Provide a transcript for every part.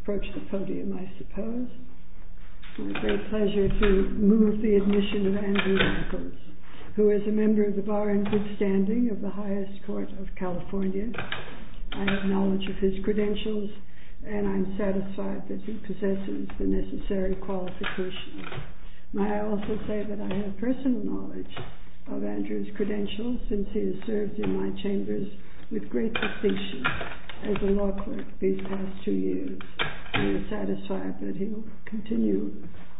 Approach the podium, I suppose. It's my great pleasure to move the admission of Andrew Nichols, who is a member of the bar in good standing of the highest court of California. I have knowledge of his credentials, and I'm satisfied that he possesses the necessary qualifications. May I also say that I have personal knowledge of Andrew's credentials, since he has served in my chambers with great distinction as a law clerk these past two years. I am satisfied that he will continue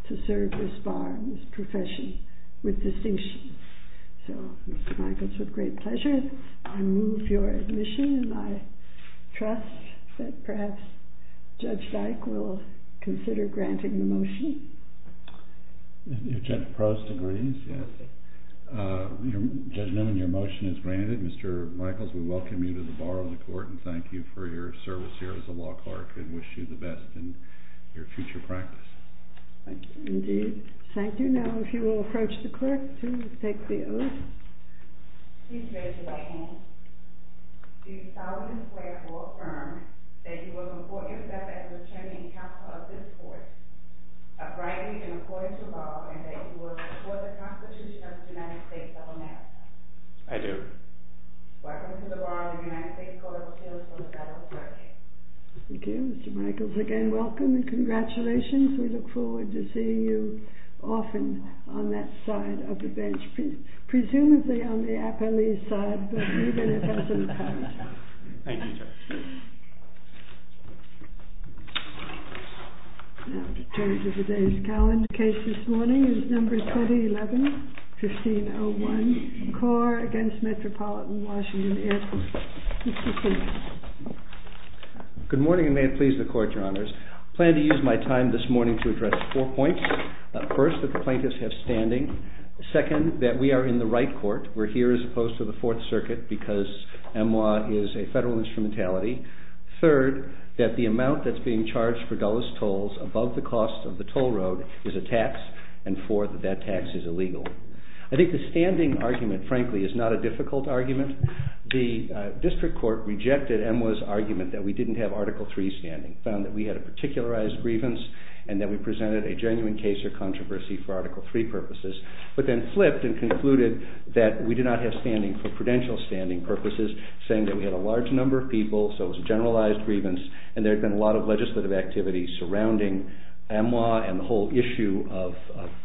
to serve this bar and this profession with distinction. So Mr. Nichols, with great pleasure, I move your admission. And I trust that perhaps Judge Dyke will consider granting the motion. If Judge Proust agrees, yes. Judge Newman, your motion is granted. Mr. Nichols, we welcome you to the bar of the court and thank you for your service here as a law clerk and wish you the best in your future practice. Thank you. Indeed. Thank you. Now, if you will approach the clerk to take the oath. Please raise your right hand. Do you solemnly swear or affirm that you will report yourself as attorney and counsel of this court, rightly and according to law, and that you will support the Constitution of the United States of America? I do. Welcome to the bar of the United States Court of Appeals for the Federal Court of Appeals. Thank you, Mr. Nichols. Again, welcome and congratulations. We look forward to seeing you often on that side of the bench, presumably on the appellee's side, but even if that's not the case. Thank you, Judge. Now, to turn to today's calendar, the case this morning is number 2011-1501, CORE against Metropolitan Washington Air Force. Mr. King. Good morning, and may it please the court, your honors. Plan to use my time this morning to address four points. First, that the plaintiffs have standing. Second, that we are in the right court. We're here as opposed to the Fourth Circuit because MLA is a federal instrumentality. Third, that the amount that's being charged for dullest tolls above the cost of the toll road is a tax. And fourth, that that tax is illegal. I think the standing argument, frankly, is not a difficult argument. The district court rejected MLA's argument that we didn't have Article III standing, found that we had a particularized grievance, and that we presented a genuine case or controversy for Article III purposes, but then flipped and concluded that we did not have standing for prudential standing purposes, saying that we had a large number of people, so it was a generalized grievance, and there had been a lot of legislative activity surrounding MLA and the whole issue of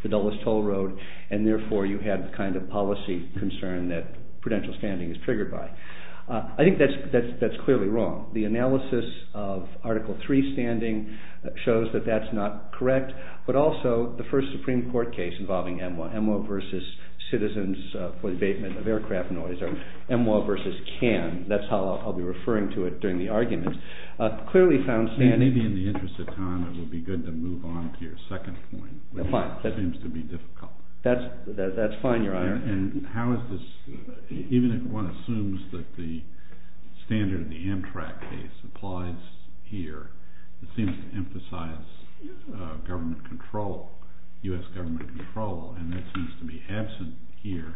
the dullest toll road. And therefore, you had the kind of policy concern that prudential standing is triggered by. I think that's clearly wrong. The analysis of Article III standing shows that that's not correct. But also, the first Supreme Court case involving MLA, MLA versus Citizens for the Abatement of Aircraft Annoyance, or MLA versus CAN, that's how I'll be referring to it during the argument, clearly found standing. Maybe in the interest of time, it would be good to move on to your second point, which seems to be difficult. That's fine, Your Honor. And how is this, even if one assumes that the standard of the Amtrak case applies here, it seems to emphasize US government control, and that seems to be absent here,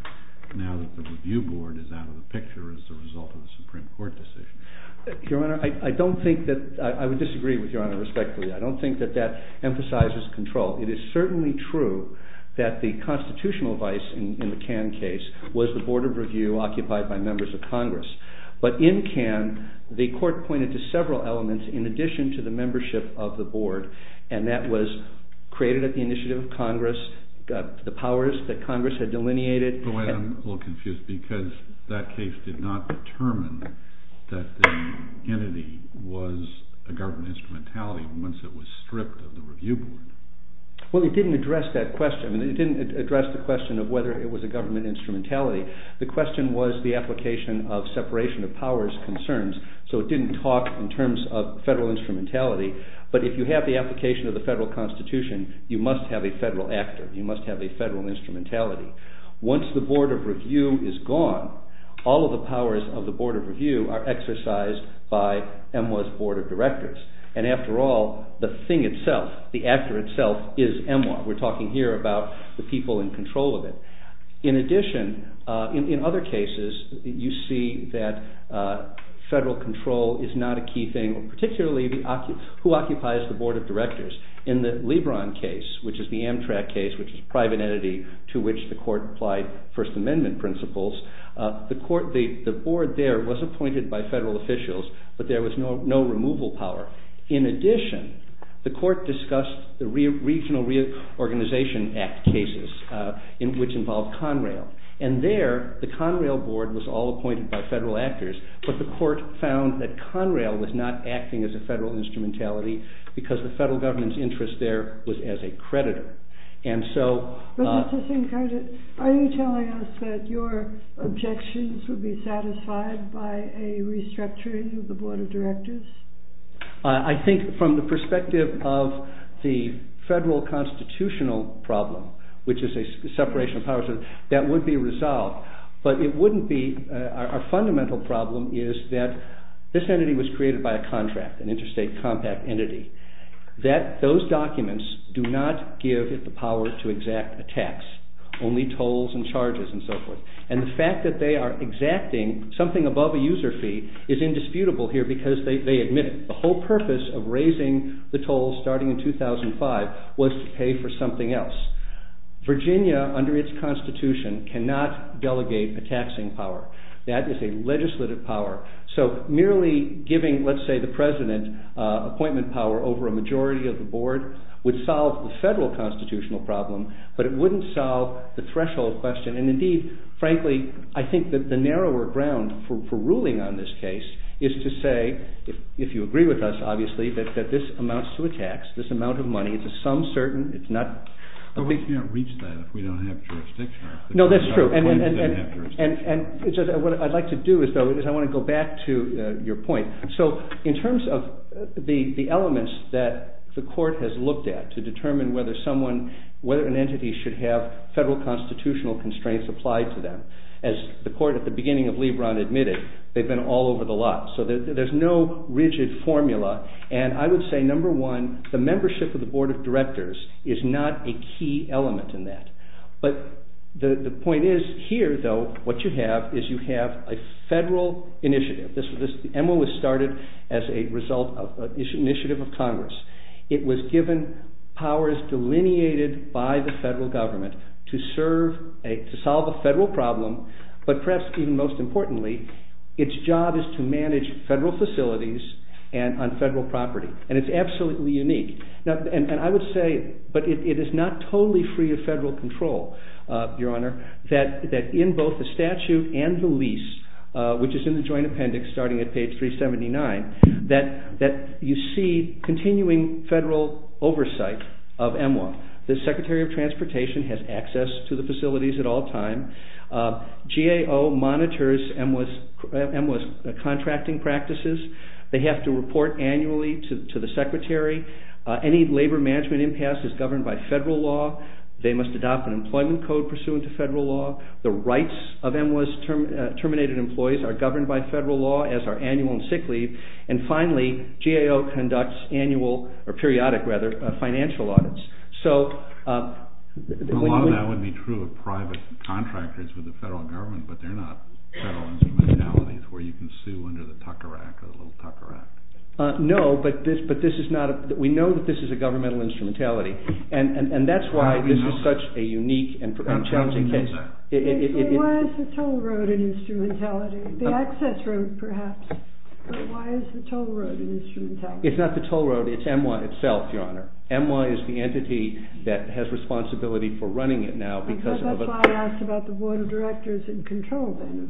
now that the review board is out of the picture as a result of the Supreme Court decision. Your Honor, I don't think that, I would disagree with Your Honor respectfully. I don't think that that emphasizes control. It is certainly true that the constitutional vice in the CAN case was the Board of Review occupied by members of Congress. But in CAN, the court pointed to several elements in addition to the membership of the board. And that was created at the initiative of Congress, the powers that Congress had delineated. But wait, I'm a little confused, because that case did not determine that the entity was a government instrumentality once it was stripped of the review board. Well, it didn't address that question. It didn't address the question of whether it was a government instrumentality. The question was the application of separation of powers concerns. So it didn't talk in terms of federal instrumentality. But if you have the application of the federal constitution, you must have a federal actor. You must have a federal instrumentality. Once the Board of Review is gone, all of the powers of the Board of Review are exercised by EMWA's board of directors. And after all, the thing itself, the actor itself, is EMWA. We're talking here about the people in control of it. In addition, in other cases, you see that federal control is not a key thing, particularly who occupies the board of directors. In the Lebron case, which is the Amtrak case, which is a private entity to which the court applied First Amendment principles, the board there was appointed by federal officials. But there was no removal power. In addition, the court discussed the Regional Reorganization Act cases, which involved Conrail. And there, the Conrail board was all appointed by federal actors. But the court found that Conrail was not acting as a federal instrumentality because the federal government's interest there was as a creditor. And so- But that's the thing. Are you telling us that your objections would be satisfied by a restructuring of the board of directors? I think from the perspective of the federal constitutional problem, which is a separation of powers, that would be resolved. But it wouldn't be. Our fundamental problem is that this entity was created by a contract, an interstate compact entity, that those documents do not give it the power to exact a tax, only tolls and charges and so forth. And the fact that they are exacting something above a user fee is indisputable here because they admit it. The whole purpose of raising the tolls starting in 2005 was to pay for something else. Virginia, under its constitution, cannot delegate a taxing power. That is a legislative power. So merely giving, let's say, the president appointment power over a majority of the board would solve the federal constitutional problem, but it wouldn't solve the threshold question. And indeed, frankly, I think that the narrower ground for ruling on this case is to say, if you agree with us, obviously, that this amounts to a tax, this amount of money. It's a sum certain. It's not a big thing. But we can't reach that if we don't have jurisdiction. No, that's true. And what I'd like to do is I want to go back to your point. So in terms of the elements that the court has looked at to determine whether an entity should have federal constitutional constraints applied to them, as the court at the beginning of Lebron admitted, they've been all over the lot. So there's no rigid formula. And I would say, number one, the membership of the board of directors is not a key element in that. But the point is, here, though, what you have is you have a federal initiative. The MOU was started as a result of an initiative of Congress. It was given powers delineated by the federal government to solve a federal problem. But perhaps even most importantly, its job is to manage federal facilities on federal property. And it's absolutely unique. And I would say, but it is not totally free of federal control, Your Honor, that in both the statute and the lease, which is in the joint appendix starting at page 379, that you see continuing federal oversight of MWA. The Secretary of Transportation has access to the facilities at all time. GAO monitors MWA's contracting practices. They have to report annually to the Secretary. Any labor management impasse is governed by federal law. They must adopt an employment code pursuant to federal law. The rights of MWA's terminated employees are governed by federal law as are annual and sick leave. And finally, GAO conducts annual, or periodic, rather, financial audits. So a lot of that would be true of private contractors with the federal government. But they're not federal instrumentalities where you can sue under the Tucker Act or the Little Tucker Act. No, but this is not a, we know that this is a governmental instrumentality. And that's why this is such a unique and challenging case. Why is the toll road an instrumentality? The access road, perhaps. But why is the toll road an instrumentality? It's not the toll road. It's MWA itself, Your Honor. MWA is the entity that has responsibility for running it now because of a- That's why I asked about the Board of Directors and control, then, of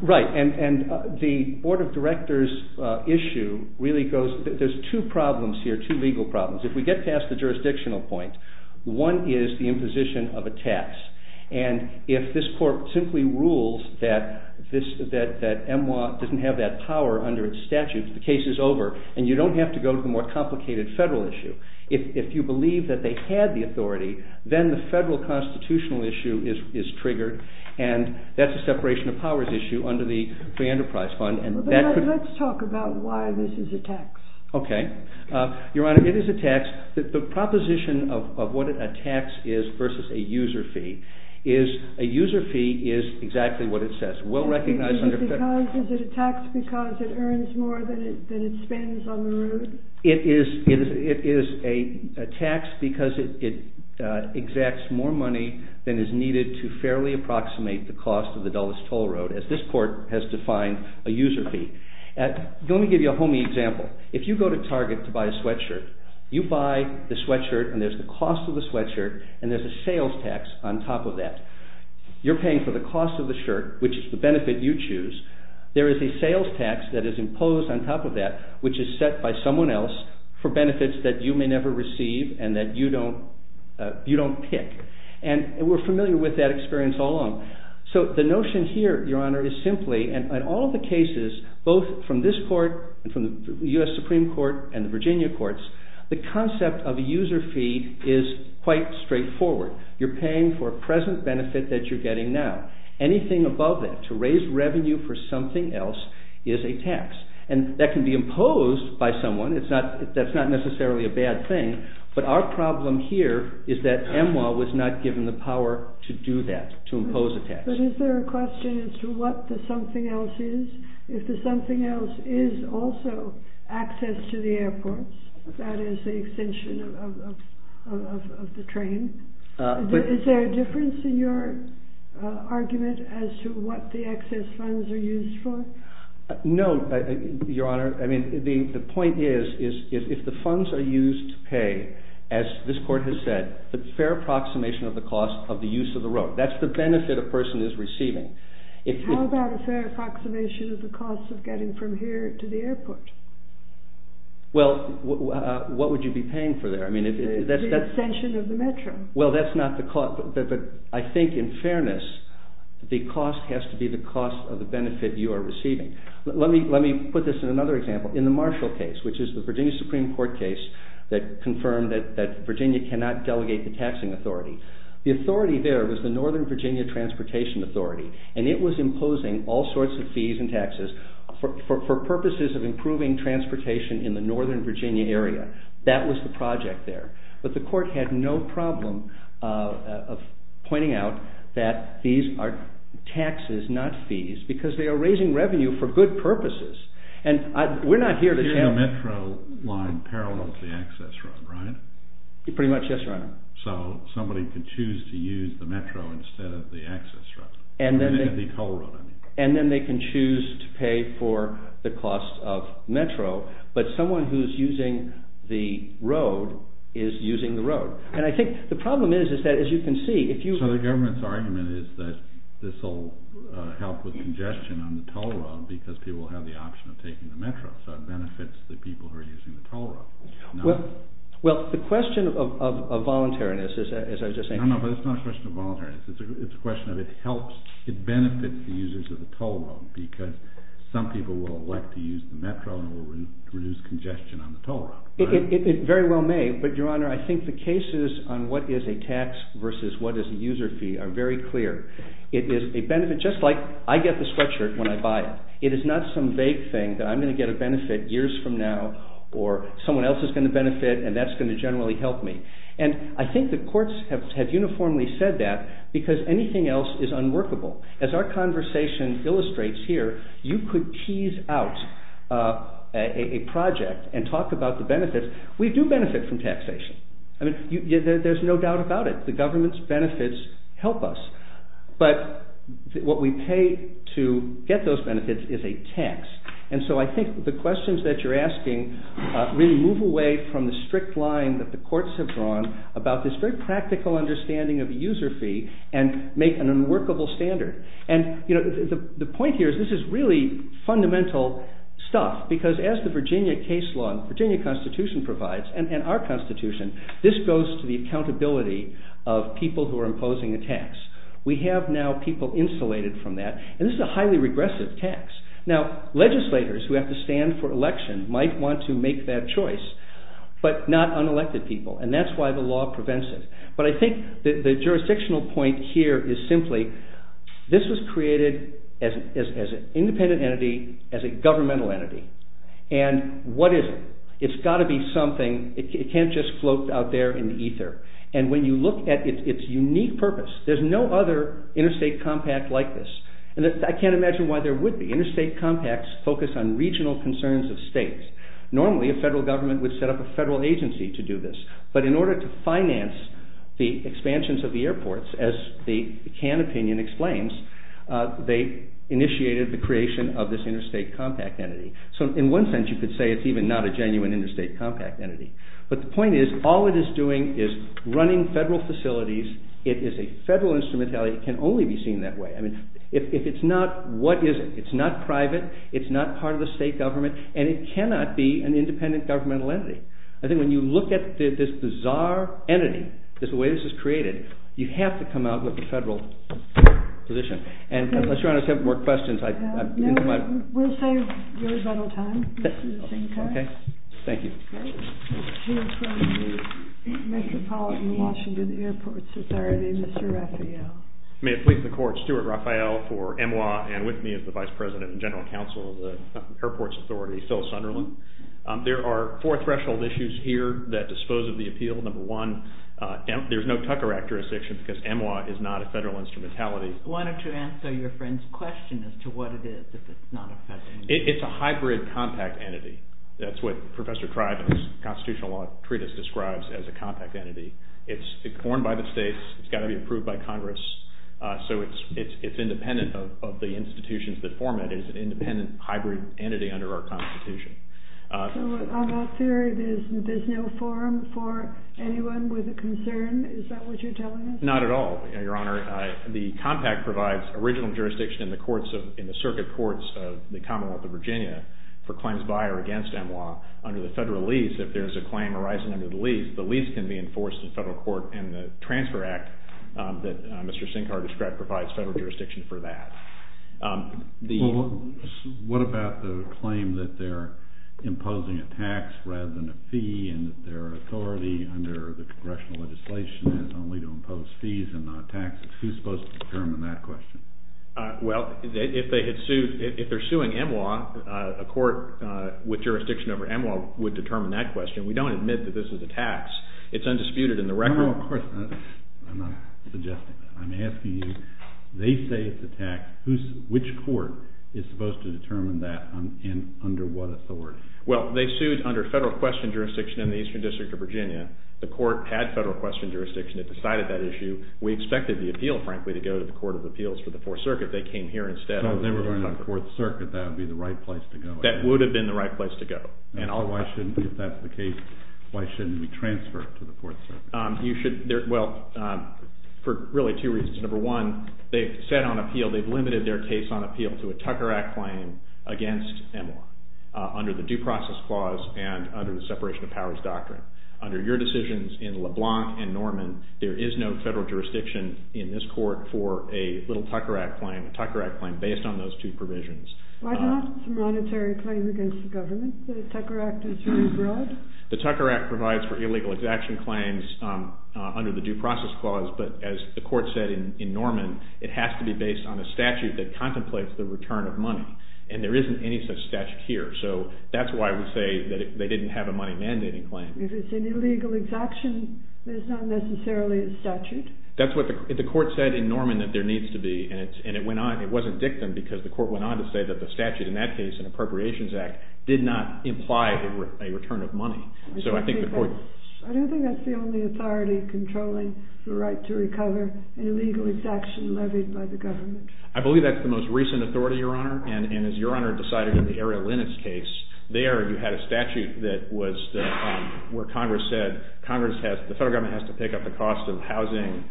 MWA. Right. And the Board of Directors issue really goes, there's two problems here, two legal problems. If we get past the jurisdictional point, one is the imposition of a tax. And if this court simply rules that MWA doesn't have that power under its statute, the case is over. And you don't have to go to the more complicated federal issue. If you believe that they had the authority, then the federal constitutional issue is triggered. And that's a separation of powers issue under the Free Enterprise Fund. And that could- Let's talk about why this is a tax. OK. Your Honor, it is a tax. The proposition of what a tax is versus a user fee is a user fee is exactly what it says. We'll recognize under- Is it a tax because it earns more than it spends on the road? It is a tax because it exacts more money than is needed to fairly approximate the cost of the dullest toll road, as this court has defined a user fee. Let me give you a homey example. If you go to Target to buy a sweatshirt, you buy the sweatshirt, and there's the cost of the sweatshirt, and there's a sales tax on top of that. You're paying for the cost of the shirt, which is the benefit you choose. There is a sales tax that is imposed on top of that, which is set by someone else for benefits that you may never receive and that you don't pick. And we're familiar with that experience all along. So the notion here, Your Honor, is simply, and in all of the cases, both from this court and from the US Supreme Court and the Virginia courts, the concept of a user fee is quite straightforward. You're paying for a present benefit that you're getting now. Anything above that, to raise revenue for something else, is a tax. And that can be imposed by someone. That's not necessarily a bad thing. But our problem here is that EMWA was not given the power to do that, to impose a tax. But is there a question as to what the something else is? If the something else is also access to the airport, that is the extension of the train, is there a difference in your argument as to what the excess funds are used for? No, Your Honor. I mean, the point is, if the funds are used to pay, as this court has said, the fair approximation of the cost of the use of the road. That's the benefit a person is receiving. How about a fair approximation of the cost of getting from here to the airport? Well, what would you be paying for there? I mean, if that's the extension of the metro. Well, that's not the cost. I think, in fairness, the cost has to be the cost of the benefit you are receiving. Let me put this in another example. In the Marshall case, which is the Virginia Supreme Court case that confirmed that Virginia cannot delegate the taxing authority, the authority there was the Northern Virginia Transportation Authority. And it was imposing all sorts of fees and taxes for purposes of improving transportation in the Northern Virginia area. That was the project there. But the court had no problem of pointing out that these are taxes, not fees, because they are raising revenue for good purposes. And we're not here to tell you. You're in a metro line parallel to the access road, right? Pretty much, yes, Your Honor. So somebody could choose to use the metro instead of the access road. The toll road, I mean. And then they can choose to pay for the cost of metro. But someone who's using the road is using the road. And I think the problem is that, as you can see, if you So the government's argument is that this will help with congestion on the toll road, because people have the option of taking the metro. So it benefits the people who are using the toll road. Well, the question of voluntariness, as I was just saying. No, no, but it's not a question of voluntariness. It's a question of it helps, it benefits the users of the toll road. Because some people will elect to use the metro and will reduce congestion on the toll road. It very well may. But, Your Honor, I think the cases on what is a tax versus what is a user fee are very clear. It is a benefit, just like I get the sweatshirt when I buy it. It is not some vague thing that I'm going to get a benefit years from now, or someone else is going to benefit, and that's going to generally help me. And I think the courts have uniformly said that, because anything else is unworkable. As our conversation illustrates here, you could tease out a project and talk about the benefits. We do benefit from taxation. I mean, there's no doubt about it. The government's benefits help us. But what we pay to get those benefits is a tax. And so I think the questions that you're asking really move away from the strict line that the courts have drawn about this very practical understanding of the user fee and make an unworkable standard. And the point here is this is really fundamental stuff, because as the Virginia case law and Virginia Constitution provides, and our Constitution, this goes to the accountability of people who are imposing a tax. We have now people insulated from that, and this is a highly regressive tax. Now, legislators who have to stand for election might want to make that choice, but not unelected people. And that's why the law prevents it. But I think the jurisdictional point here is simply, this was created as an independent entity, as a governmental entity. And what is it? It's got to be something. It can't just float out there in ether. And when you look at its unique purpose, there's no other interstate compact like this. And I can't imagine why there would be. Interstate compacts focus on regional concerns of states. Normally, a federal government would set up a federal agency to do this. But in order to finance the expansions of the airports, as the Kahn opinion explains, they initiated the creation of this interstate compact entity. So in one sense, you could say it's even not a genuine interstate compact entity. But the point is, all it is doing is running federal facilities. It is a federal instrumentality. It can only be seen that way. I mean, if it's not, what is it? It's not private. It's not part of the state government. And it cannot be an independent governmental entity. I think when you look at this bizarre entity, the way this is created, you have to come out with a federal position. And unless you want to take more questions, I've been too much. We'll save your vital time. This is a same time. OK. Thank you. Here from the Metropolitan Washington Airports Authority, Mr. Raphael. May it please the court, Stuart Raphael for MWA and with me as the Vice President and General Counsel of the Airports Authority, Phil Sunderland. There are four threshold issues here that dispose of the appeal. Number one, there's no Tucker Act jurisdiction because MWA is not a federal instrumentality. Why don't you answer your friend's question as to what it is if it's not a federal entity? It's a hybrid compact entity. That's what Professor Triban's Constitutional Law Treatise describes as a compact entity. It's formed by the states. It's got to be approved by Congress. So it's independent of the institutions that form it. It's an independent hybrid entity under our Constitution. So in all that theory, there's no forum for anyone with a concern? Is that what you're telling us? Not at all, Your Honor. The compact provides original jurisdiction in the circuit courts of the Commonwealth of Virginia for claims by or against MWA. Under the federal lease, if there's a claim arising under the lease, the lease can be enforced in federal court. And the Transfer Act that Mr. Sinkar described provides federal jurisdiction for that. Well, what about the claim that they're imposing a tax rather than a fee, and that their authority under the congressional legislation is only to impose fees and not taxes? Who's supposed to determine that question? Well, if they're suing MWA, a court with jurisdiction over MWA would determine that question. We don't admit that this is a tax. It's undisputed in the record. Well, of course, I'm not suggesting that. I'm asking you, they say it's a tax. Which court is supposed to determine that, and under what authority? Well, they sued under federal question jurisdiction in the Eastern District of Virginia. The court had federal question jurisdiction. It decided that issue. We expected the appeal, frankly, to go to the Court of Appeals for the Fourth Circuit. They came here instead. So if they were going to the Fourth Circuit, that would be the right place to go. That would have been the right place to go. And if that's the case, why shouldn't we transfer it to the Fourth Circuit? Well, for really two reasons. Number one, they've said on appeal, they've limited their case on appeal to a Tucker Act claim against MWA under the Due Process Clause and under the Separation of Powers Doctrine. Under your decisions in LeBlanc and Norman, there is no federal jurisdiction in this court for a little Tucker Act claim, a Tucker Act claim, based on those two provisions. Why not a monetary claim against the government that a Tucker Act is very broad? The Tucker Act provides for illegal exaction claims under the Due Process Clause. But as the court said in Norman, it has to be based on a statute that contemplates the return of money. And there isn't any such statute here. So that's why we say that they didn't have a money mandating claim. If it's an illegal exaction, it's not necessarily a statute. That's what the court said in Norman that there needs to be. And it went on. It wasn't dictum, because the court went on to say that the statute in that case, in the Appropriations Act, did not imply a return of money. So I think the court. I don't think that's the only authority controlling the right to recover an illegal exaction levied by the government. I believe that's the most recent authority, Your Honor. And as Your Honor decided in the Ariel Linnitz case, there you had a statute that was where Congress said, the federal government has to pick up the cost of housing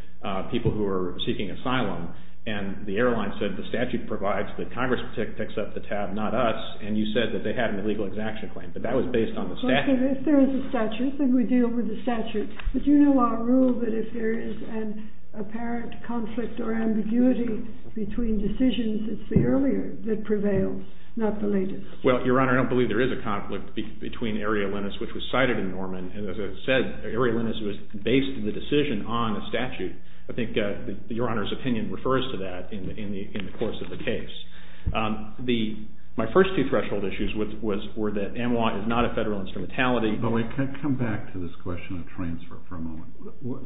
people who are seeking asylum. And the airline said, the statute provides that Congress picks up the tab, not us. And you said that they had an illegal exaction claim. But that was based on the statute. If there is a statute, then we deal with the statute. But you know our rule that if there is an apparent conflict or ambiguity between decisions, it's the earlier that prevails, not the later. Well, Your Honor, I don't believe there is a conflict between Ariel Linnitz, which was cited in Norman. And as I said, Ariel Linnitz was based on the decision on a statute. I think Your Honor's opinion refers to that in the course of the case. My first two threshold issues were that M-1 is not a federal instrumentality. But wait, come back to this question of transfer for a moment.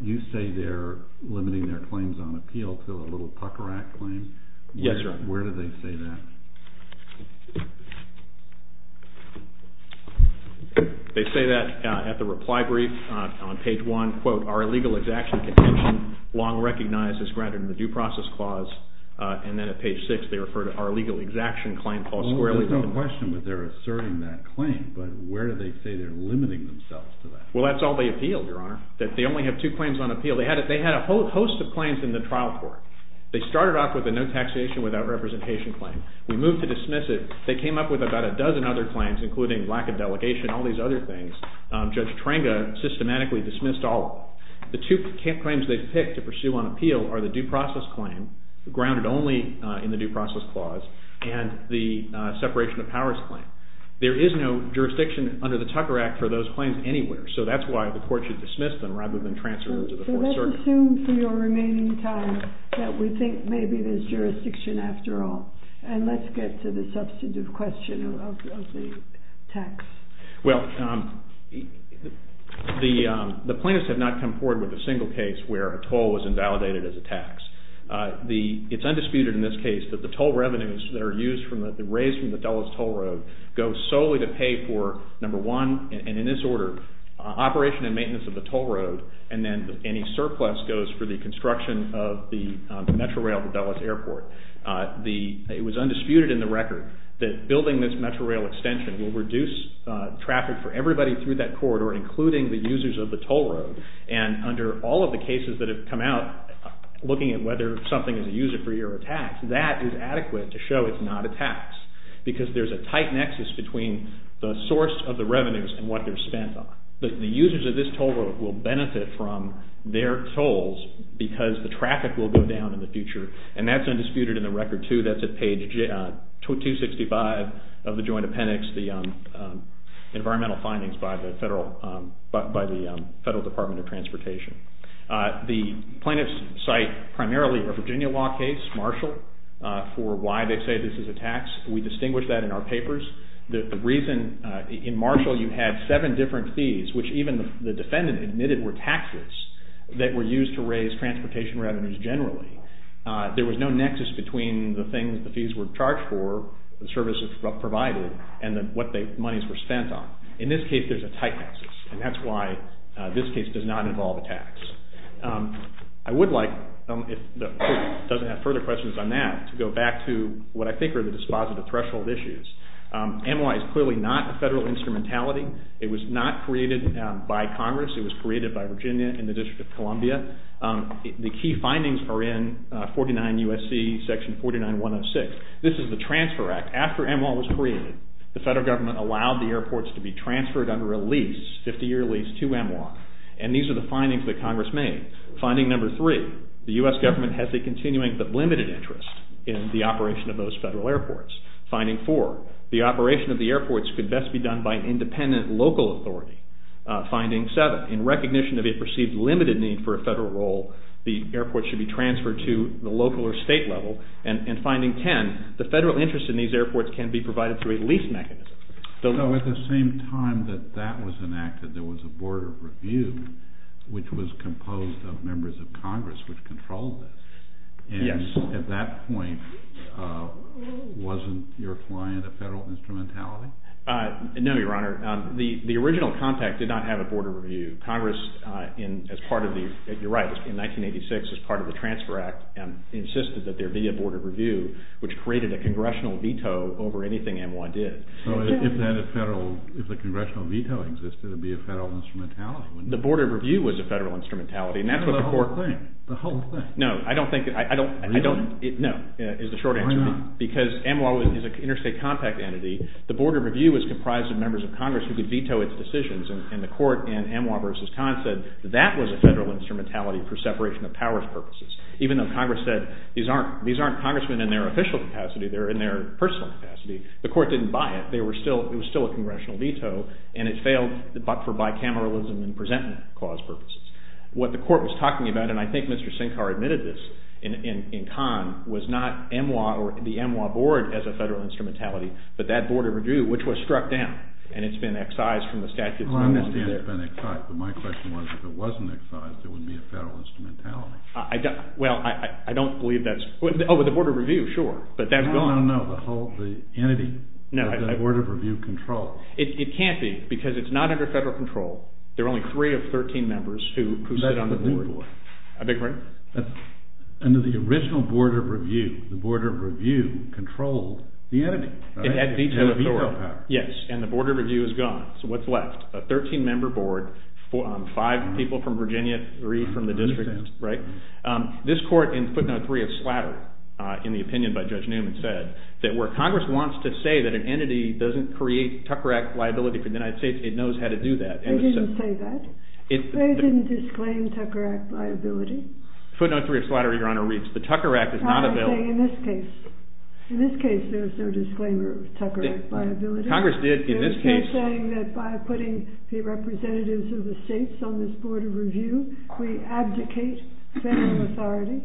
You say they're limiting their claims on appeal to a little pucker act claim? Yes, Your Honor. Where do they say that? They say that at the reply brief on page one, quote, our illegal exaction contention long recognized as granted in the due process clause. And then at page six, they refer to our legal exaction claim clause squarely. There's no question that they're asserting that claim. But where do they say they're limiting themselves to that? Well, that's all they appealed, Your Honor, that they only have two claims on appeal. They had a host of claims in the trial court. They started off with a no taxation without representation claim. We moved to dismiss it. They came up with about a dozen other claims, including lack of delegation, all these other things. Judge Trenga systematically dismissed all of them. The two claims they've picked to pursue on appeal are the due process claim, grounded only in the due process clause, and the separation of powers claim. There is no jurisdiction under the Tucker Act for those claims anywhere. So that's why the court should dismiss them rather than transfer them to the Fourth Circuit. So let's assume for your remaining time that we think maybe there's jurisdiction after all. And let's get to the substantive question of the tax. Well, the plaintiffs have not come forward with a single case where a toll was invalidated as a tax. It's undisputed in this case that the toll revenues that are raised from the Dulles toll road go solely to pay for, number one, and in this order, operation and maintenance of the toll road, and then any surplus goes for the construction of the Metrorail to Dulles Airport. It was undisputed in the record that building this Metrorail extension will reduce traffic for everybody through that corridor, including the users of the toll road. And under all of the cases that have come out, looking at whether something is a user-free or a tax, that is adequate to show it's not a tax, because there's a tight nexus between the source of the revenues and what they're spent on. The users of this toll road will benefit from their tolls because the traffic will go down in the future. And that's undisputed in the record, too, that's at page 265 of the joint appendix, the environmental findings by the Federal Department of Transportation. The plaintiffs cite primarily a Virginia law case, Marshall, for why they say this is a tax. We distinguish that in our papers. The reason in Marshall you had seven different fees, which even the defendant admitted were taxes that were used to raise transportation revenues generally. There was no nexus between the things the fees were charged for, the services provided, and what the monies were spent on. In this case, there's a tight nexus. And that's why this case does not involve a tax. I would like, if the court doesn't have further questions on that, to go back to what I think are the dispositive threshold issues. NY is clearly not a federal instrumentality. It was not created by Congress. It was created by Virginia and the District of Columbia. The key findings are in 49 U.S.C. section 49106. This is the Transfer Act. After MWOA was created, the federal government allowed the airports to be transferred under a lease, 50-year lease to MWOA. And these are the findings that Congress made. Finding number three, the U.S. government has a continuing but limited interest in the operation of those federal airports. Finding four, the operation of the airports could best be done by an independent local authority. Finding seven, in recognition of a perceived limited need for a federal role, the airport should be transferred to the local or state level. And finding 10, the federal interest in these airports can be provided through a lease mechanism. So at the same time that that was enacted, there was a Board of Review, which was composed of members of Congress, which controlled this. And at that point, wasn't your client a federal instrumentality? No, Your Honor. The original contact did not have a Board of Review. Congress, as part of the, you're right, in 1986, as part of the Transfer Act, insisted that there be a Board of Review, which created a congressional veto over anything MWOA did. So if the congressional veto existed, it would be a federal instrumentality, wouldn't it? The Board of Review was a federal instrumentality. And that's what the court thinks. The whole thing. No, I don't think, I don't, no, is the short answer. Because MWOA is an interstate contact entity. The Board of Review was comprised of members of Congress who could veto its decisions. And the court in MWOA versus Kahn said that was a federal instrumentality for separation of powers purposes. Even though Congress said, these aren't congressmen in their official capacity, they're in their personal capacity, the court didn't buy it. They were still, it was still a congressional veto. And it failed for bicameralism and presentment clause purposes. What the court was talking about, and I think Mr. Sinkar admitted this in Kahn, was not MWOA or the MWOA Board as a federal instrumentality, but that Board of Review, which was struck down. And it's been excised from the statute. Well, I understand it's been excised. But my question was, if it wasn't excised, it would be a federal instrumentality. Well, I don't believe that's, oh, the Board of Review, sure. But that's gone. No, no, no, the whole, the entity, the Board of Review control. It can't be. Because it's not under federal control. There are only three of 13 members who sit on the board. I beg your pardon? Under the original Board of Review, the Board of Review controlled the entity. It had veto authority. Yes, and the Board of Review is gone. So what's left? A 13-member board, five people from Virginia, three from the district, right? This court, in footnote three of Slatter, in the opinion by Judge Newman, said that where Congress wants to say that an entity doesn't create Tucker Act liability for the United States, it knows how to do that. They didn't say that. They didn't disclaim Tucker Act liability. Footnote three of Slatter, Your Honor, reads, the Tucker Act is not available. I'm saying in this case, in this case, there is no disclaimer of Tucker Act liability. Congress did, in this case. They're still saying that by putting the representatives of the states on this Board of Review, we abdicate federal authority.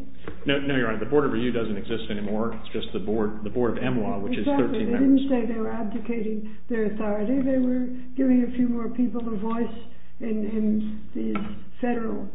No, Your Honor, the Board of Review doesn't exist anymore. It's just the Board of MLAW, which is 13 members. Exactly. They didn't say they were abdicating their authority. They were giving a few more people a voice in these federal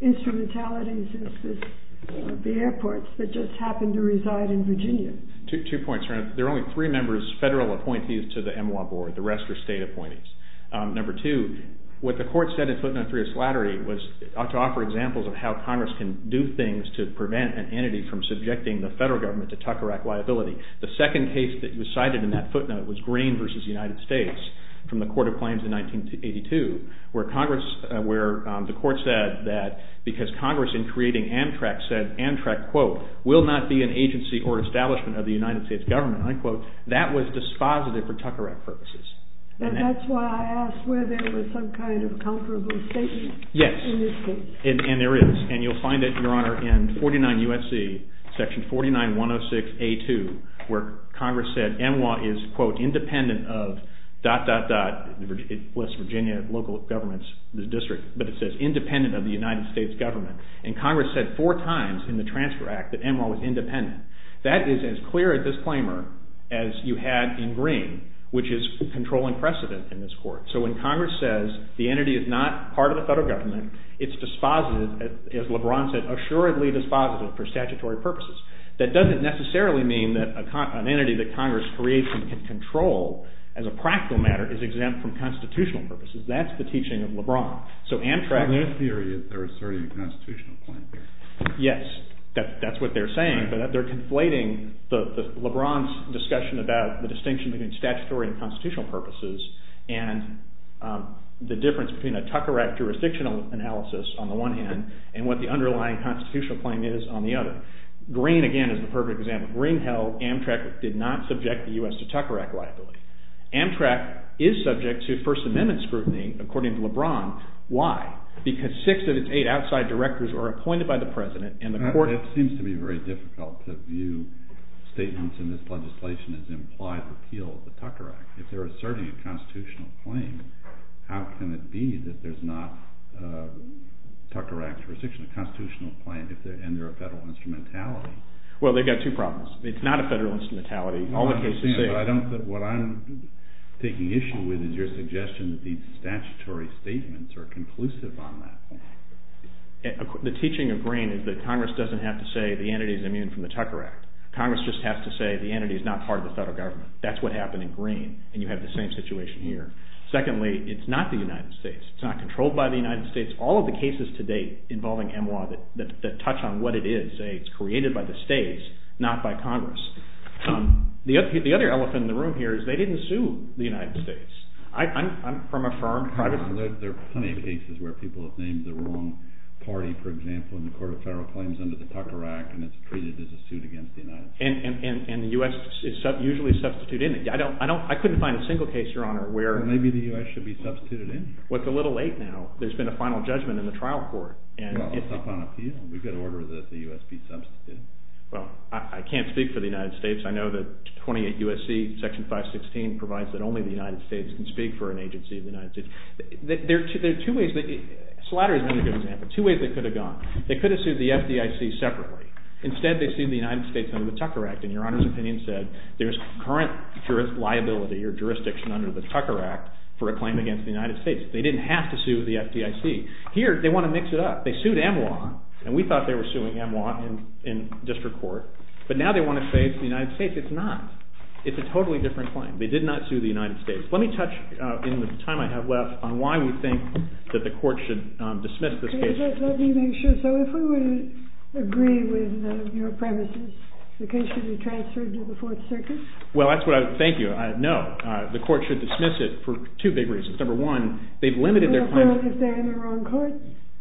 instrumentalities as the airports that just happen to reside in Virginia. Two points, Your Honor. There are only three members federal appointees to the MLAW Board. The rest are state appointees. Number two, what the court said in footnote three of Slattery was to offer examples of how Congress can do things to prevent an entity from subjecting the federal government to Tucker Act liability. The second case that was cited in that footnote was Green versus the United States from the Court of Claims in 1982, where the court said that because Congress, in creating Amtrak, said Amtrak, quote, will not be an agency or establishment of the United States government, unquote, that was dispositive for Tucker Act purposes. And that's why I asked whether there was some kind of comparable statement in this case. Yes. And there is. And you'll find it, Your Honor, in 49 U.S.C., section 49106A2, where Congress said MLAW is, quote, independent of dot, dot, dot, it lists Virginia, local governments, the district, but it says independent of the United States government. And Congress said four times in the Transfer Act that MLAW was independent. That is as clear a disclaimer as you had in Green, which is control and precedent in this court. So when Congress says the entity is not part of the federal government, it's dispositive, as LeBron said, assuredly dispositive for statutory purposes. That doesn't necessarily mean that an entity that Congress creates and can control as a practical matter is exempt from constitutional purposes. That's the teaching of LeBron. So Amtrak. So in their theory, they're asserting a constitutional point here. Yes, that's what they're saying. They're conflating LeBron's discussion about the distinction between statutory and constitutional purposes and the difference between a Tucker Act jurisdictional analysis, on the one hand, and what the underlying constitutional claim is on the other. Green, again, is the perfect example. Green held Amtrak did not subject the U.S. to Tucker Act liability. Amtrak is subject to First Amendment scrutiny, according to LeBron. Why? Because six of its eight outside directors were appointed by the president, and the court seems to be very difficult to view statements in this legislation as implied repeal of the Tucker Act. If they're asserting a constitutional claim, how can it be that there's not a Tucker Act jurisdiction, a constitutional claim, and they're a federal instrumentality? Well, they've got two problems. It's not a federal instrumentality. All the cases say it. I understand, but what I'm taking issue with is your suggestion that these statutory statements are conclusive on that. The teaching of Green is that Congress doesn't have to say the entity is immune from the Tucker Act. Congress just has to say the entity is not part of the federal government. That's what happened in Green, and you have the same situation here. Secondly, it's not the United States. It's not controlled by the United States. All of the cases to date involving MWA that touch on what it is say it's created by the states, not by Congress. The other elephant in the room here is they didn't sue the United States. I'm from a firm, privately. There are plenty of cases where people have named the wrong party, for example, in the Court of Federal Claims into the Tucker Act, and it's treated as a suit against the United States. And the US usually substitute in it. I couldn't find a single case, Your Honor, where Maybe the US should be substituted in. What's a little late now. There's been a final judgment in the trial court. Well, it's up on appeal. We've got to order that the US be substituted. Well, I can't speak for the United States. I know that 28 U.S.C. Section 516 provides that only the United States can speak for an agency of the United States. There are two ways that Slatter has been a good example. Two ways they could have gone. They could have sued the FDIC separately. Instead, they sued the United States under the Tucker Act. And Your Honor's opinion said there's current liability or jurisdiction under the Tucker Act for a claim against the United States. They didn't have to sue the FDIC. Here, they want to mix it up. They sued EMWA, and we thought they were suing EMWA in district court. But now they want to say it's the United States. It's not. It's a totally different claim. They did not sue the United States. Let me touch, in the time I have left, on why we think that the court should dismiss this case. Let me make sure. So if we would agree with your premises, the case should be transferred to the Fourth Circuit? Well, that's what I would, thank you, no. The court should dismiss it for two big reasons. Number one, they've limited their claim. Well, if they're in the wrong court,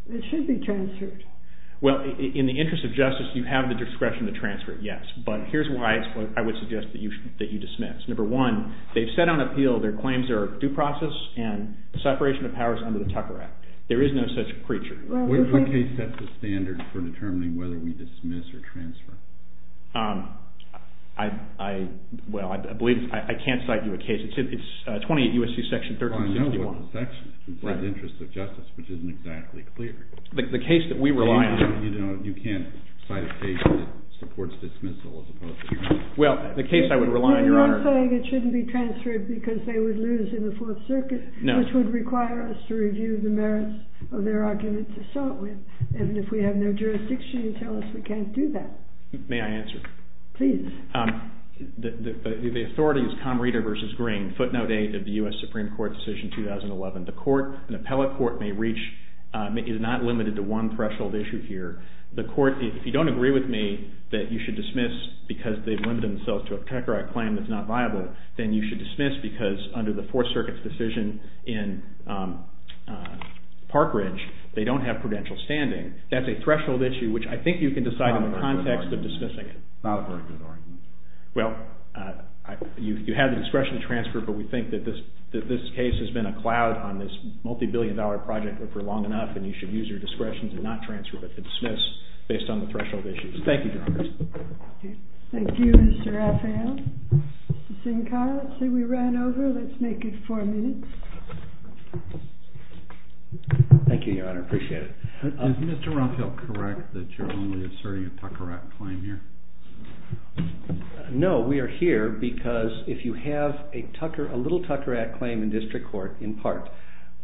it should be transferred. Well, in the interest of justice, you have the discretion to transfer it, yes. But here's why I would suggest that you dismiss. Number one, they've said on appeal their claims are due process and separation of powers under the Tucker Act. There is no such creature. What case sets the standard for determining whether we dismiss or transfer? Well, I believe I can't cite you a case. It's 28 U.S.C. Section 1361. Well, I know what the section is. It says interest of justice, which isn't exactly clear. The case that we rely on. You can't cite a case that supports dismissal as opposed to dismissal. Well, the case I would rely on, Your Honor. You're not saying it shouldn't be transferred because they would lose in the Fourth Circuit, which would require us to review the merits of their argument to start with. And if we have no jurisdiction, you tell us we can't do that. May I answer? Please. The authority is Comrida v. Green, footnote 8 of the U.S. Supreme Court decision 2011. The court, an appellate court, is not limited to one threshold issue here. The court, if you don't agree with me that you should dismiss because they've limited themselves to a Tucker Act claim that's not viable, then you should dismiss because under the Fourth Circuit's decision in Park Ridge, they don't have prudential standing. That's a threshold issue, which I think you can decide in the context of dismissing it. Not a very good argument. Well, you have the discretion to transfer, but we think that this case has been a cloud on this multibillion dollar project for long enough, and you should use your discretion to not transfer, but to dismiss based on the threshold issues. Thank you, Your Honor. Thank you, Mr. Raphael. Ms. Sincar, let's say we ran over. Let's make it four minutes. Thank you, Your Honor. Appreciate it. Is Mr. Raphael correct that you're only asserting a Tucker Act claim here? No, we are here because if you have a little Tucker Act claim in district court, in part,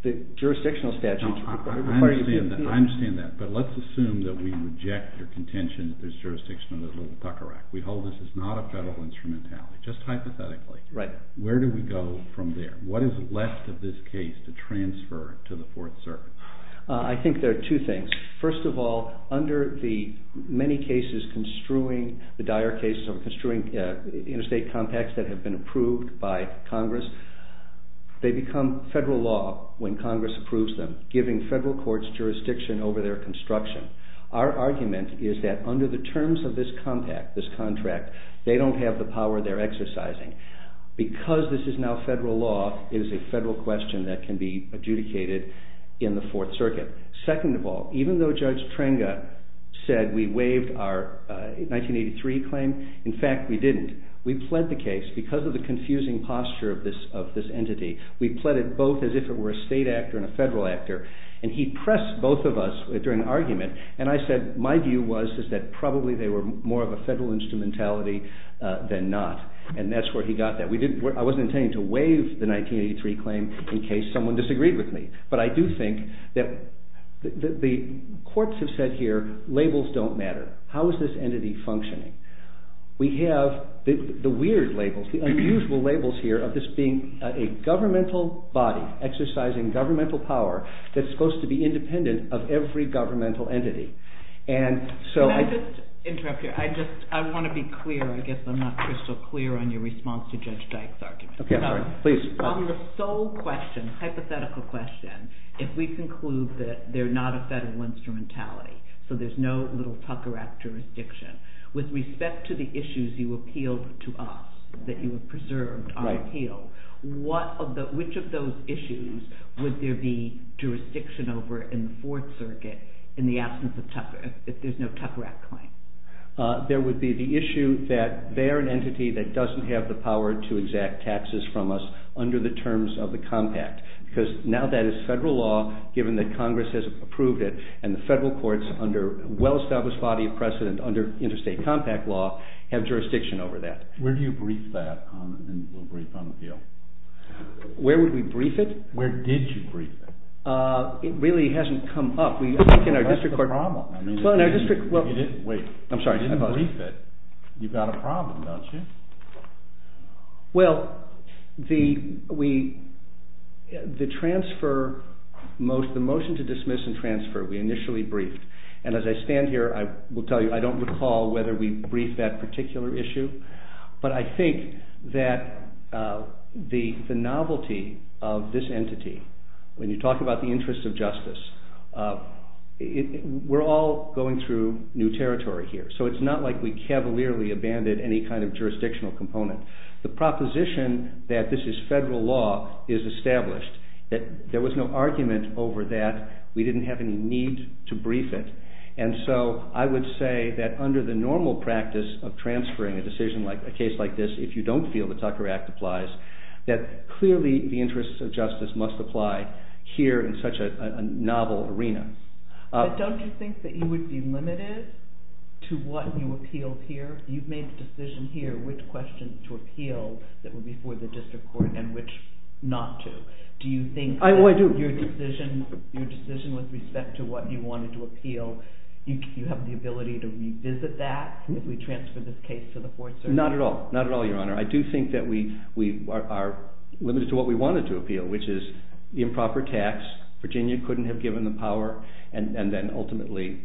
the jurisdictional statutes require you to do it. I understand that, but let's assume that we reject your contention that there's jurisdiction on the little Tucker Act. We hold this is not a federal instrumentality, just hypothetically. Where do we go from there? What is left of this case to transfer to the Fourth Circuit? I think there are two things. First of all, under the many cases construing, the dire cases of construing interstate compacts that have been approved by Congress, they become federal law when Congress approves them, giving federal courts jurisdiction over their construction. Our argument is that under the terms of this compact, this contract, they don't have the power they're exercising. Because this is now federal law, it is a federal question that can be adjudicated in the Fourth Circuit. Second of all, even though Judge Trenga said we waived our 1983 claim, in fact, we didn't. We pled the case. Because of the confusing posture of this entity, we pled it both as if it were a state actor and a federal actor. And he pressed both of us during the argument. And I said, my view was that probably they were more of a federal instrumentality than not. And that's where he got that. We didn't. I wasn't intending to waive the 1983 claim in case someone disagreed with me. But I do think that the courts have said here, labels don't matter. How is this entity functioning? We have the weird labels, the unusual labels here of this being a governmental body exercising governmental power that's supposed to be independent of every governmental entity. And so I just want to be clear. I guess I'm not crystal clear on your response to Judge Dyke's argument. OK, all right. Please. On the sole question, hypothetical question, if we conclude that they're not a federal instrumentality, so there's no little Tucker Act jurisdiction, with respect to the issues you appealed to us, that you have preserved our appeal, which of those issues would there be jurisdiction over in the Fourth Circuit in the absence of Tucker, if there's no Tucker Act claim? There would be the issue that they're an entity that doesn't have the power to exact taxes from us under the terms of the compact. Because now that is federal law, given that Congress has approved it, and the federal courts, under well-established body of precedent under interstate compact law, have jurisdiction over that. Where do you brief that on the appeal? Where would we brief it? Where did you brief it? It really hasn't come up. That's the problem. I mean, you didn't brief it. I'm sorry. You didn't brief it. You've got a problem, don't you? Well, the transfer, the motion to dismiss and transfer, we initially briefed. And as I stand here, I will tell you I don't recall whether we briefed that particular issue. But I think that the novelty of this entity, when you talk about the interests of justice, we're all going through new territory here. So it's not like we cavalierly abandoned any kind of jurisdictional component. The proposition that this is federal law is established, that there was no argument over that. We didn't have any need to brief it. And so I would say that under the normal practice of transferring a decision, a case like this, if you don't feel the Tucker Act applies, that clearly the interests of justice must apply here in such a novel arena. But don't you think that you would be limited to what you appealed here? You've made the decision here which questions to appeal that were before the district court and which not to. Do you think that your decision with respect to what you wanted to appeal, you have the ability to revisit that if we transfer this case to the fourth circuit? Not at all, not at all, Your Honor. I do think that we are limited to what we wanted to appeal, which is the improper tax. Virginia couldn't have given the power. And then ultimately,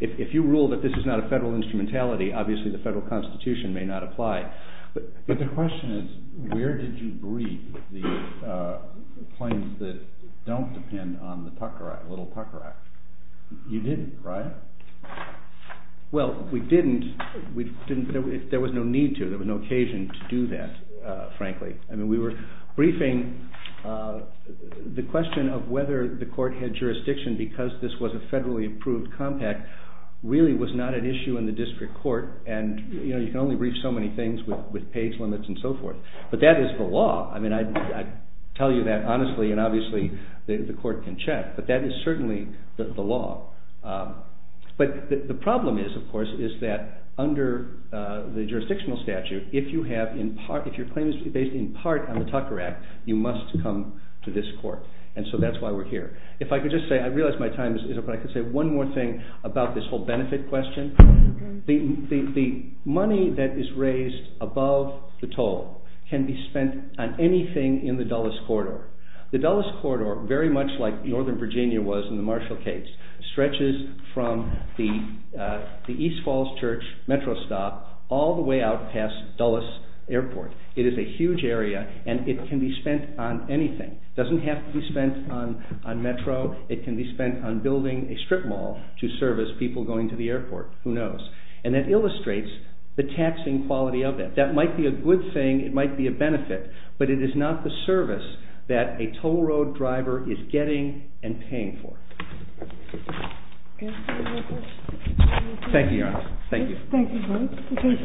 if you rule that this is not a federal instrumentality, obviously the federal constitution may not apply. But the question is, where did you brief the claims that don't depend on the little Tucker Act? You didn't, right? Well, we didn't. There was no need to. There was no occasion to do that, frankly. I mean, we were briefing the question of whether the court had jurisdiction because this was a federally approved compact really was not an issue in the district court. And you can only brief so many things with page limits and so forth. But that is the law. I mean, I tell you that honestly, and obviously the court can check. But that is certainly the law. But the problem is, of course, is that under the jurisdictional statute, if your claim is based in part on the Tucker Act, you must come to this court. And so that's why we're here. If I could just say, I realize my time is up, but I could say one more thing about this whole benefit question. The money that is raised above the toll can be spent on anything in the Dulles Corridor. The Dulles Corridor, very much like Northern Virginia was in the Marshall case, stretches from the East Falls Church metro stop all the way out past Dulles Airport. It is a huge area, and it can be spent on anything. It doesn't have to be spent on metro. It can be spent on building a strip mall to service people going to the airport. Who knows? And that illustrates the taxing quality of it. That might be a good thing. It might be a benefit. But it is not the service that a toll road driver is getting and paying for. OK. Thank you very much. Thank you, Your Honor. Thank you. Thank you, Your Honor. Thank you for taking this position.